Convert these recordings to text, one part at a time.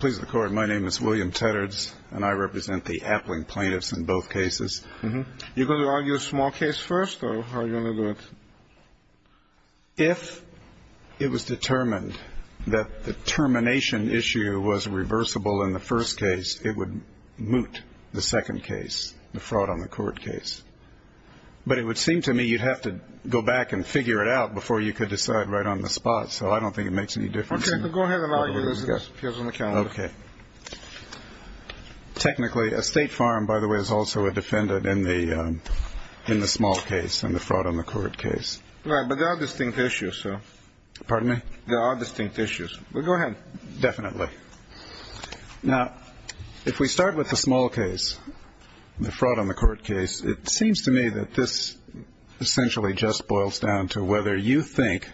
Please the court, my name is William Teterds and I represent the Appling plaintiffs in both cases. Are you going to argue a small case first or are you going to do it? If it was determined that the termination issue was reversible in the first case, it would moot the second case, the fraud on the court case. But it would seem to me you'd have to go back and figure it out before you could decide right on the spot. So I don't think it makes any difference. Okay. Go ahead and argue. Okay. Technically, a state farm, by the way, is also a defendant in the small case and the fraud on the court case. Right. But there are distinct issues. Pardon me? There are distinct issues. Go ahead. Definitely. Now, if we start with the small case, the fraud on the court case, it seems to me that this essentially just boils down to whether you think,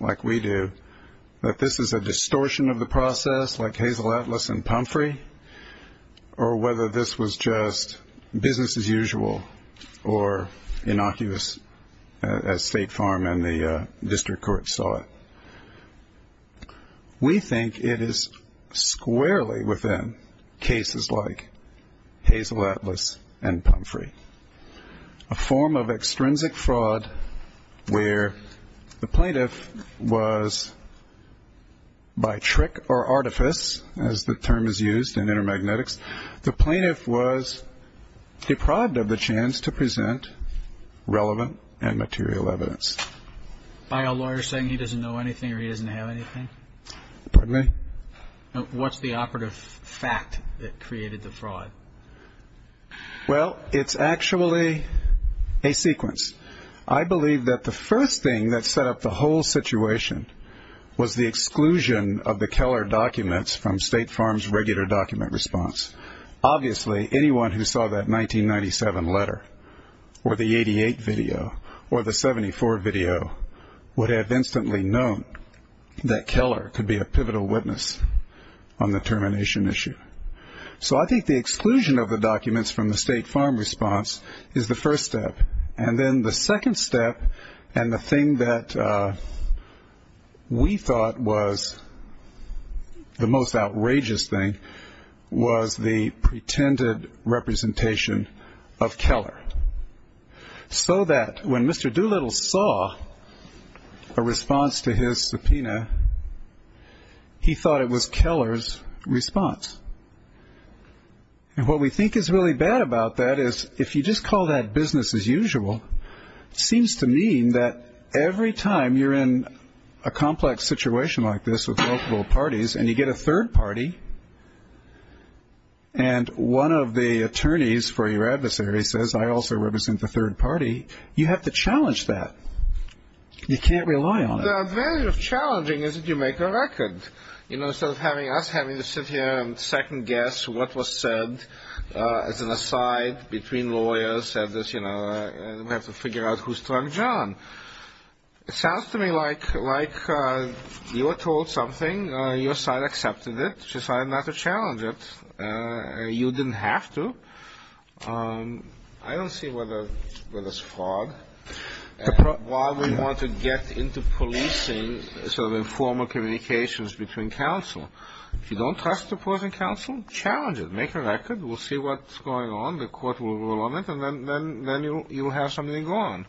like we do, that this is a distortion of the process, like Hazel Atlas and Pumphrey, or whether this was just business as usual or innocuous as state farm and the district court saw it. We think it is squarely within cases like Hazel Atlas and Pumphrey, a form of extrinsic fraud where the plaintiff was, by trick or artifice, as the term is used in intermagnetics, the plaintiff was deprived of the chance to present relevant and material evidence. By a lawyer saying he doesn't know anything or he doesn't have anything? Pardon me? What's the operative fact that created the fraud? Well, it's actually a sequence. I believe that the first thing that set up the whole situation was the exclusion of the Keller documents from state farm's regular document response. Obviously, anyone who saw that 1997 letter or the 88 video or the 74 video would have instantly known that Keller could be a pivotal witness on the termination issue. So I think the exclusion of the documents from the state farm response is the first step. And then the second step and the thing that we thought was the most outrageous thing was the pretended representation of Keller. So that when Mr. Doolittle saw a response to his subpoena, he thought it was Keller's response. And what we think is really bad about that is if you just call that business as usual, it seems to mean that every time you're in a complex situation like this with multiple parties and you get a third party and one of the attorneys for your adversary says, I also represent the third party, you have to challenge that. You can't rely on it. The advantage of challenging is that you make a record. Instead of us having to sit here and second guess what was said as an aside between lawyers, we have to figure out who struck John. It sounds to me like you were told something. Your side accepted it. She decided not to challenge it. You didn't have to. I don't see where there's fraud. While we want to get into policing, sort of informal communications between counsel, if you don't trust opposing counsel, challenge it. Make a record. We'll see what's going on. And then you'll have something going on.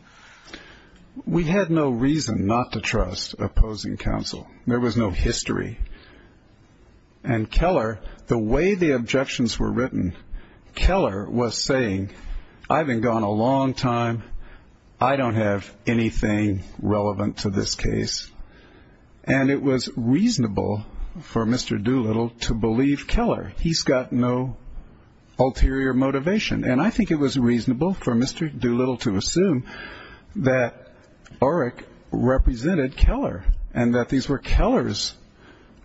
We had no reason not to trust opposing counsel. There was no history. And Keller, the way the objections were written, Keller was saying, I've been gone a long time. I don't have anything relevant to this case. And it was reasonable for Mr. Doolittle to believe Keller. He's got no ulterior motivation. And I think it was reasonable for Mr. Doolittle to assume that Ulrich represented Keller and that these were Keller's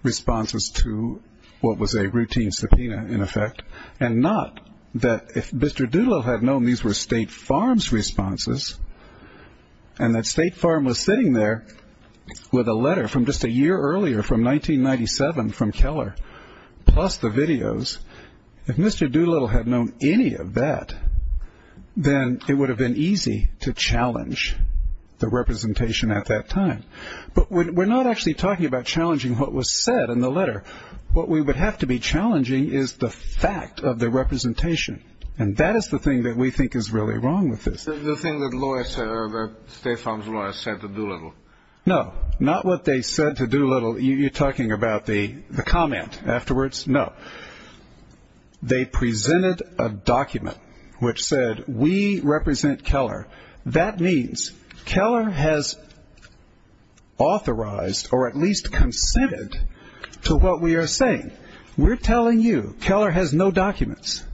responses to what was a routine subpoena, in effect, and not that if Mr. Doolittle had known these were State Farm's responses and that State Farm was sitting there with a letter from just a year earlier, from 1997, from Keller, plus the videos, if Mr. Doolittle had known any of that, then it would have been easy to challenge the representation at that time. But we're not actually talking about challenging what was said in the letter. What we would have to be challenging is the fact of the representation, and that is the thing that we think is really wrong with this. The thing that lawyers said or that State Farm's lawyers said to Doolittle? No, not what they said to Doolittle. You're talking about the comment afterwards? No. They presented a document which said we represent Keller. That means Keller has authorized or at least consented to what we are saying. We're telling you Keller has no documents.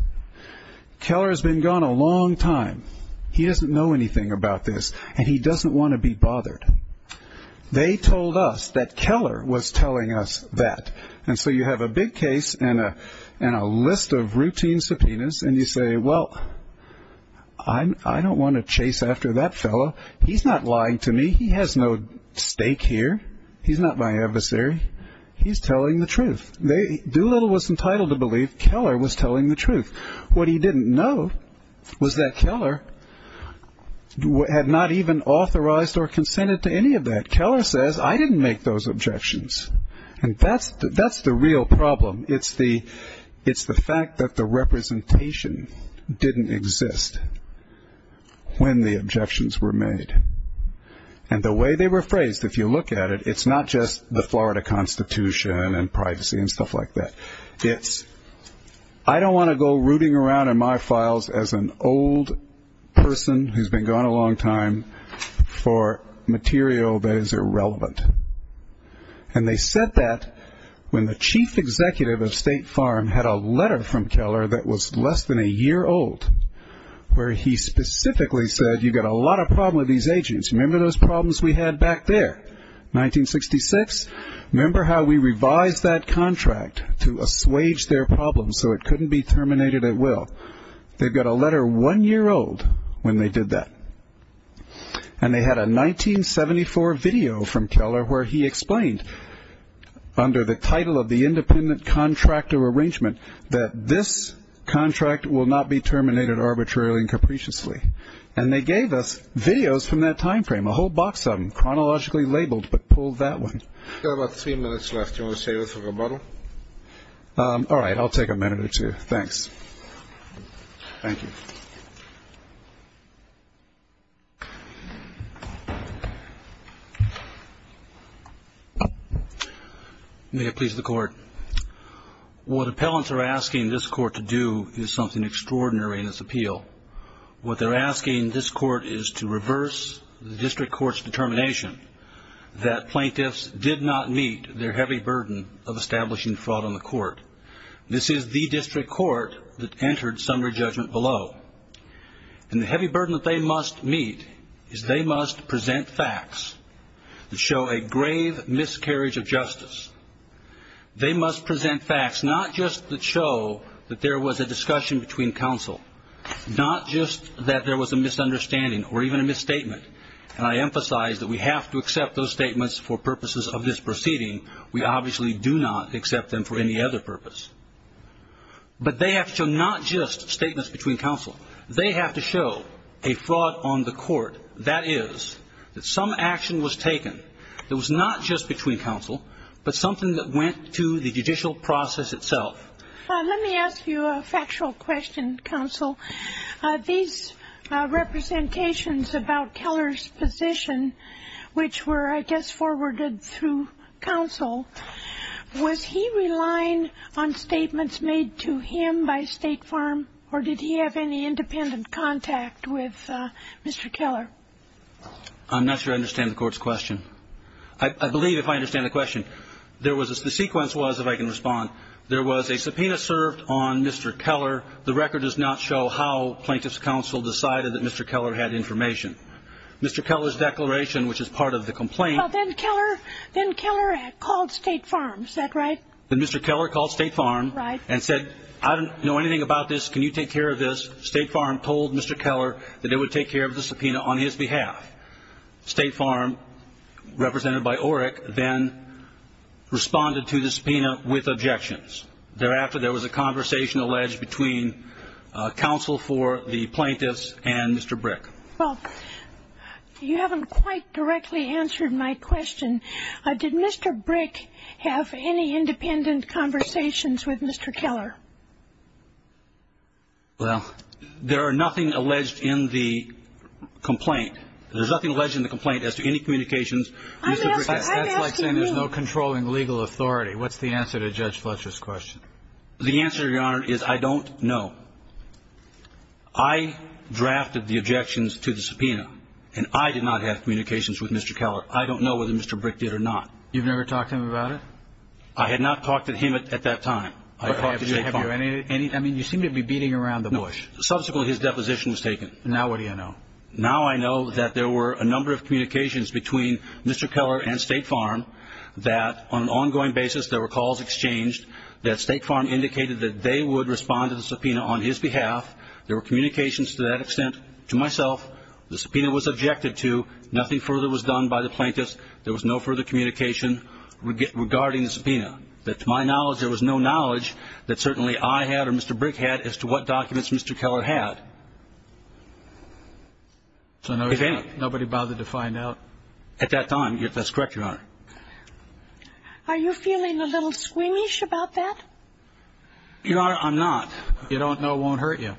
Keller has been gone a long time. He doesn't know anything about this, and he doesn't want to be bothered. They told us that Keller was telling us that, and so you have a big case and a list of routine subpoenas, and you say, well, I don't want to chase after that fellow. He's not lying to me. He has no stake here. He's not my adversary. He's telling the truth. Doolittle was entitled to believe Keller was telling the truth. What he didn't know was that Keller had not even authorized or consented to any of that. Keller says, I didn't make those objections, and that's the real problem. It's the fact that the representation didn't exist when the objections were made, and the way they were phrased, if you look at it, it's not just the Florida Constitution and privacy and stuff like that. It's, I don't want to go rooting around in my files as an old person who's been gone a long time for material that is irrelevant. And they said that when the chief executive of State Farm had a letter from Keller that was less than a year old where he specifically said, you've got a lot of problem with these agents. Remember those problems we had back there, 1966? Remember how we revised that contract to assuage their problems so it couldn't be terminated at will? They've got a letter one year old when they did that. And they had a 1974 video from Keller where he explained, under the title of the Independent Contractor Arrangement, that this contract will not be terminated arbitrarily and capriciously. And they gave us videos from that time frame, a whole box of them, chronologically labeled, but pull that one. We've got about three minutes left. Do you want to save it for rebuttal? All right. I'll take a minute or two. Thanks. Thank you. May it please the Court. What appellants are asking this Court to do is something extraordinary in its appeal. What they're asking this Court is to reverse the district court's determination that plaintiffs did not meet their heavy burden of establishing fraud on the court. This is the district court that entered summary judgment below. And the heavy burden that they must meet is they must present facts They must present facts not just that show that there was a discussion between counsel, not just that there was a misunderstanding or even a misstatement. And I emphasize that we have to accept those statements for purposes of this proceeding. We obviously do not accept them for any other purpose. But they have to show not just statements between counsel. They have to show a fraud on the court. That is, that some action was taken that was not just between counsel but something that went to the judicial process itself. Let me ask you a factual question, counsel. These representations about Keller's position, which were, I guess, forwarded through counsel, was he relying on statements made to him by State Farm or did he have any independent contact with Mr. Keller? I'm not sure I understand the Court's question. I believe, if I understand the question, the sequence was, if I can respond, there was a subpoena served on Mr. Keller. The record does not show how plaintiff's counsel decided that Mr. Keller had information. Mr. Keller's declaration, which is part of the complaint Well, then Keller called State Farm. Is that right? Then Mr. Keller called State Farm. Right. And said, I don't know anything about this. Can you take care of this? State Farm told Mr. Keller that it would take care of the subpoena on his behalf. State Farm, represented by Oreck, then responded to the subpoena with objections. Thereafter, there was a conversation alleged between counsel for the plaintiffs and Mr. Brick. Well, you haven't quite directly answered my question. Did Mr. Brick have any independent conversations with Mr. Keller? Well, there are nothing alleged in the complaint. There's nothing alleged in the complaint as to any communications. That's like saying there's no controlling legal authority. What's the answer to Judge Fletcher's question? The answer, Your Honor, is I don't know. I drafted the objections to the subpoena, and I did not have communications with Mr. Keller. I don't know whether Mr. Brick did or not. You've never talked to him about it? I had not talked to him at that time. I mean, you seem to be beating around the bush. Subsequently, his deposition was taken. Now what do you know? Now I know that there were a number of communications between Mr. Keller and State Farm, that on an ongoing basis there were calls exchanged, that State Farm indicated that they would respond to the subpoena on his behalf. There were communications to that extent to myself. The subpoena was objected to. There was no further communication regarding the subpoena. To my knowledge, there was no knowledge that certainly I had or Mr. Brick had as to what documents Mr. Keller had. So nobody bothered to find out? At that time, that's correct, Your Honor. Are you feeling a little squeamish about that? Your Honor, I'm not. You don't know won't hurt you.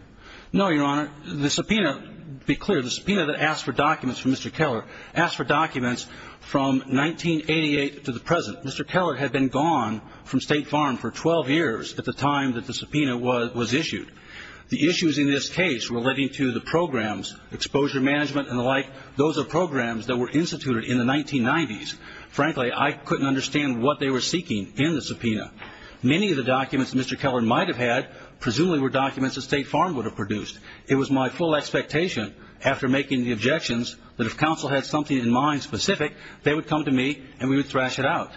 No, Your Honor. The subpoena, to be clear, the subpoena that asked for documents from Mr. Keller asked for documents from 1988 to the present. Mr. Keller had been gone from State Farm for 12 years at the time that the subpoena was issued. The issues in this case relating to the programs, exposure management and the like, those are programs that were instituted in the 1990s. Frankly, I couldn't understand what they were seeking in the subpoena. Many of the documents Mr. Keller might have had presumably were documents that State Farm would have produced. It was my full expectation, after making the objections, that if counsel had something in mind specific, they would come to me and we would thrash it out.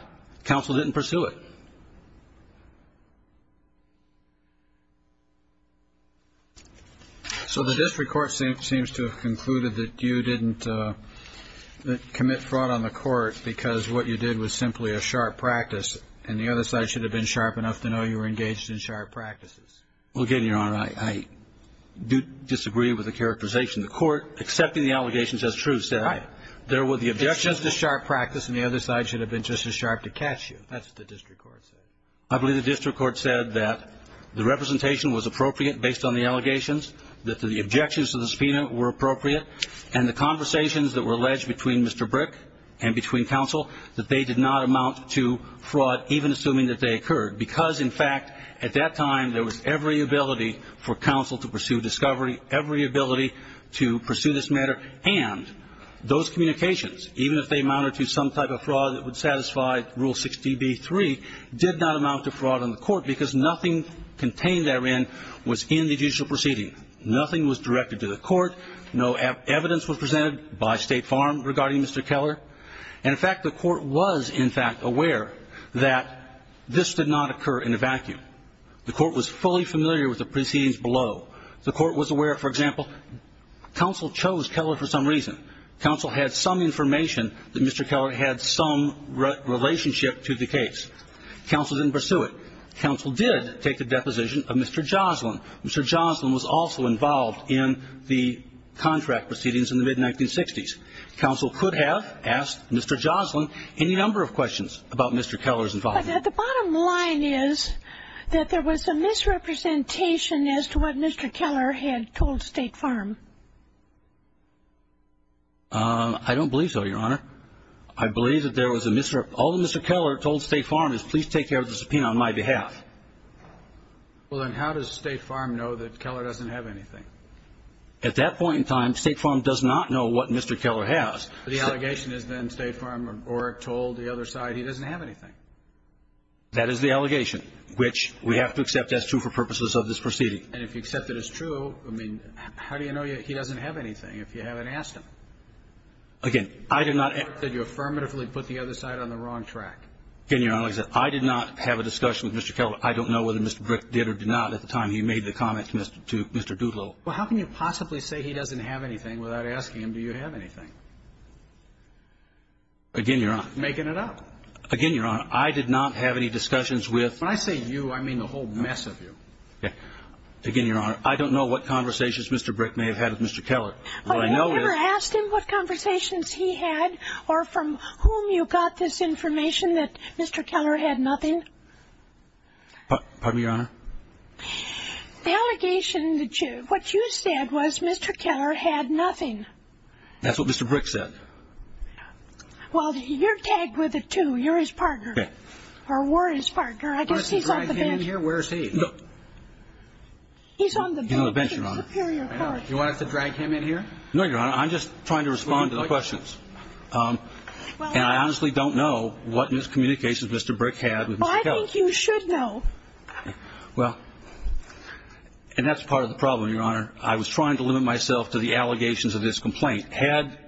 Counsel didn't pursue it. So the district court seems to have concluded that you didn't commit fraud on the court because what you did was simply a sharp practice and the other side should have been sharp enough to know you were engaged in sharp practices. Well, again, Your Honor, I do disagree with the characterization. The court, accepting the allegations as true, said there were the objections. It's just a sharp practice and the other side should have been just as sharp to catch you. That's what the district court said. I believe the district court said that the representation was appropriate based on the allegations, that the objections to the subpoena were appropriate, and the conversations that were alleged between Mr. Brick and between counsel, that they did not amount to fraud, even assuming that they occurred, because, in fact, at that time there was every ability for counsel to pursue discovery, every ability to pursue this matter, and those communications, even if they amounted to some type of fraud that would satisfy Rule 60b-3, did not amount to fraud on the court because nothing contained therein was in the judicial proceeding. Nothing was directed to the court. No evidence was presented by State Farm regarding Mr. Keller. And, in fact, the court was, in fact, aware that this did not occur in a vacuum. The court was fully familiar with the proceedings below. The court was aware, for example, counsel chose Keller for some reason. Counsel had some information that Mr. Keller had some relationship to the case. Counsel didn't pursue it. Counsel did take the deposition of Mr. Joslin. Mr. Joslin was also involved in the contract proceedings in the mid-1960s. Counsel could have asked Mr. Joslin any number of questions about Mr. Keller's involvement. But the bottom line is that there was a misrepresentation as to what Mr. Keller had told State Farm. I don't believe so, Your Honor. I believe that there was a misrepresentation. All that Mr. Keller told State Farm is please take care of the subpoena on my behalf. Well, then how does State Farm know that Keller doesn't have anything? At that point in time, State Farm does not know what Mr. Keller has. The allegation is then State Farm or told the other side he doesn't have anything. That is the allegation, which we have to accept as true for purposes of this proceeding. And if you accept that it's true, I mean, how do you know he doesn't have anything if you haven't asked him? Again, I did not ask him. Did you affirmatively put the other side on the wrong track? Again, Your Honor, I did not have a discussion with Mr. Keller. I don't know whether Mr. Brick did or did not at the time he made the comment to Mr. Dudlow. Well, how can you possibly say he doesn't have anything without asking him do you have anything? Again, Your Honor. Making it up. Again, Your Honor, I did not have any discussions with... When I say you, I mean the whole mess of you. Again, Your Honor, I don't know what conversations Mr. Brick may have had with Mr. Keller. What I know is... Well, have you ever asked him what conversations he had or from whom you got this information that Mr. Keller had nothing? Pardon me, Your Honor? The allegation that you... What you said was Mr. Keller had nothing. That's what Mr. Brick said. Well, you're tagged with it too. You're his partner. Okay. Or were his partner. I guess he's on the bench. Where's he? No. He's on the bench, Your Honor. He's on the bench, Your Honor. I know. Do you want us to drag him in here? No, Your Honor. I'm just trying to respond to the questions. And I honestly don't know what miscommunications Mr. Brick had with Mr. Keller. Well, I think you should know. Well, and that's part of the problem, Your Honor. I was trying to limit myself to the allegations of this complaint. Had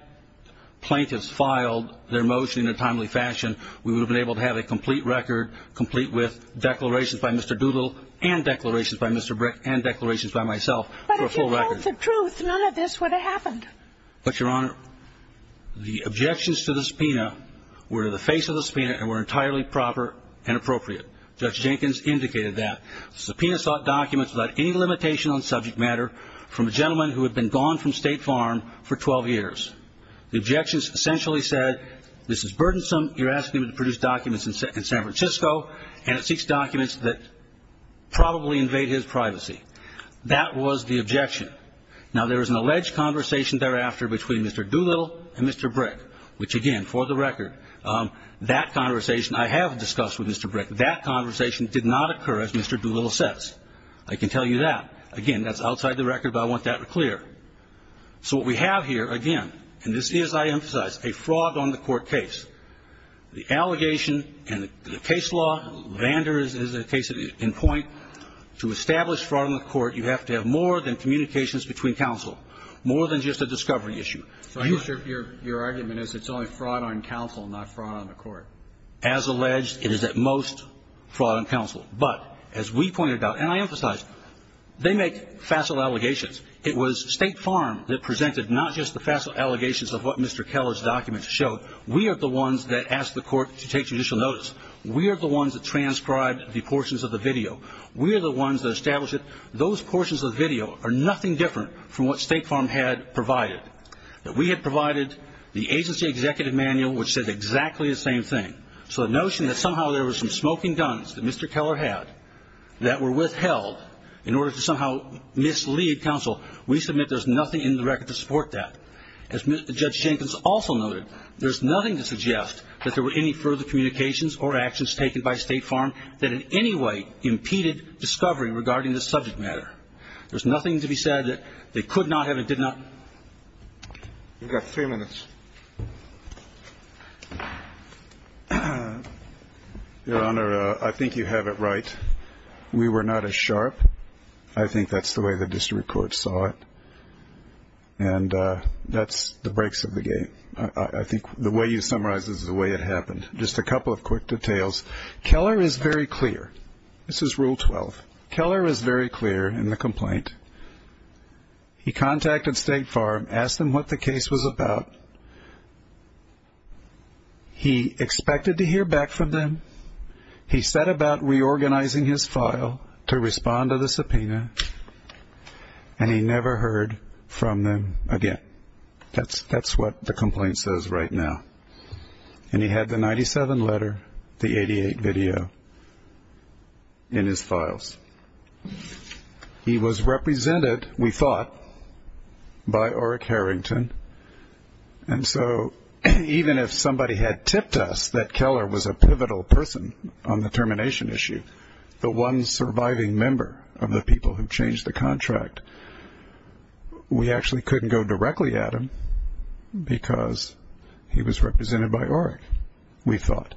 plaintiffs filed their motion in a timely fashion, we would have been able to have a complete record, complete with declarations by Mr. Doodle and declarations by Mr. Brick and declarations by myself for a full record. But if you told the truth, none of this would have happened. But, Your Honor, the objections to the subpoena were to the face of the subpoena and were entirely proper and appropriate. Judge Jenkins indicated that. The subpoena sought documents without any limitation on subject matter from a gentleman who had been gone from State Farm for 12 years. The objections essentially said, this is burdensome. You're asking me to produce documents in San Francisco, and it seeks documents that probably invade his privacy. That was the objection. Now, there was an alleged conversation thereafter between Mr. Doolittle and Mr. Brick, which, again, for the record, that conversation I have discussed with Mr. Brick. That conversation did not occur, as Mr. Doolittle says. I can tell you that. Again, that's outside the record, but I want that clear. So what we have here, again, and this is, I emphasize, a fraud on the court case. The allegation and the case law, Vanders is a case in point, to establish fraud on the court, you have to have more than communications between counsel, more than just a discovery issue. So I guess your argument is it's only fraud on counsel, not fraud on the court. As alleged, it is at most fraud on counsel. But as we pointed out, and I emphasize, they make facile allegations. It was State Farm that presented not just the facile allegations of what Mr. Keller's documents showed. We are the ones that asked the court to take judicial notice. We are the ones that transcribed the portions of the video. We are the ones that established it. Those portions of the video are nothing different from what State Farm had provided. We had provided the agency executive manual which said exactly the same thing. So the notion that somehow there was some smoking guns that Mr. Keller had that were withheld in order to somehow mislead counsel, we submit there's nothing in the record to support that. As Judge Jenkins also noted, there's nothing to suggest that there were any further communications or actions taken by State Farm that in any way impeded discovery regarding this subject matter. There's nothing to be said that they could not have and did not. We've got three minutes. Your Honor, I think you have it right. We were not as sharp. I think that's the way the district court saw it. And that's the breaks of the game. I think the way you summarize this is the way it happened. Just a couple of quick details. Keller is very clear. This is Rule 12. Keller is very clear in the complaint. He contacted State Farm, asked them what the case was about. He expected to hear back from them. He set about reorganizing his file to respond to the subpoena, and he never heard from them again. That's what the complaint says right now. And he had the 97 letter, the 88 video in his files. He was represented, we thought, by Orrick Harrington. And so even if somebody had tipped us that Keller was a pivotal person on the termination issue, the one surviving member of the people who changed the contract, we actually couldn't go directly at him because he was represented by Orrick, we thought.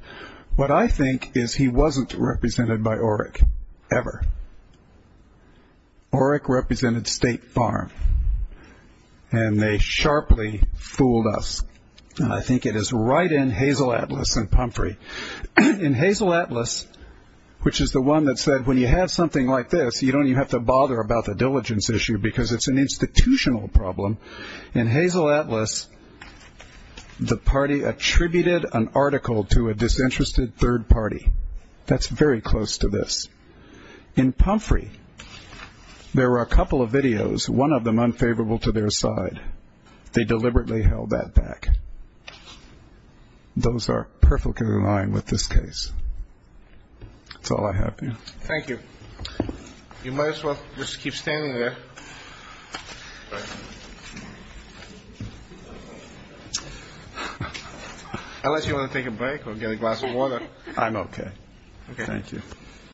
What I think is he wasn't represented by Orrick ever. Orrick represented State Farm, and they sharply fooled us. And I think it is right in Hazel Atlas and Pumphrey. In Hazel Atlas, which is the one that said when you have something like this, you don't even have to bother about the diligence issue because it's an institutional problem. In Hazel Atlas, the party attributed an article to a disinterested third party. That's very close to this. In Pumphrey, there were a couple of videos, one of them unfavorable to their side. They deliberately held that back. Those are perfectly in line with this case. That's all I have. Thank you. You might as well just keep standing there. Unless you want to take a break or get a glass of water. I'm okay. Thank you.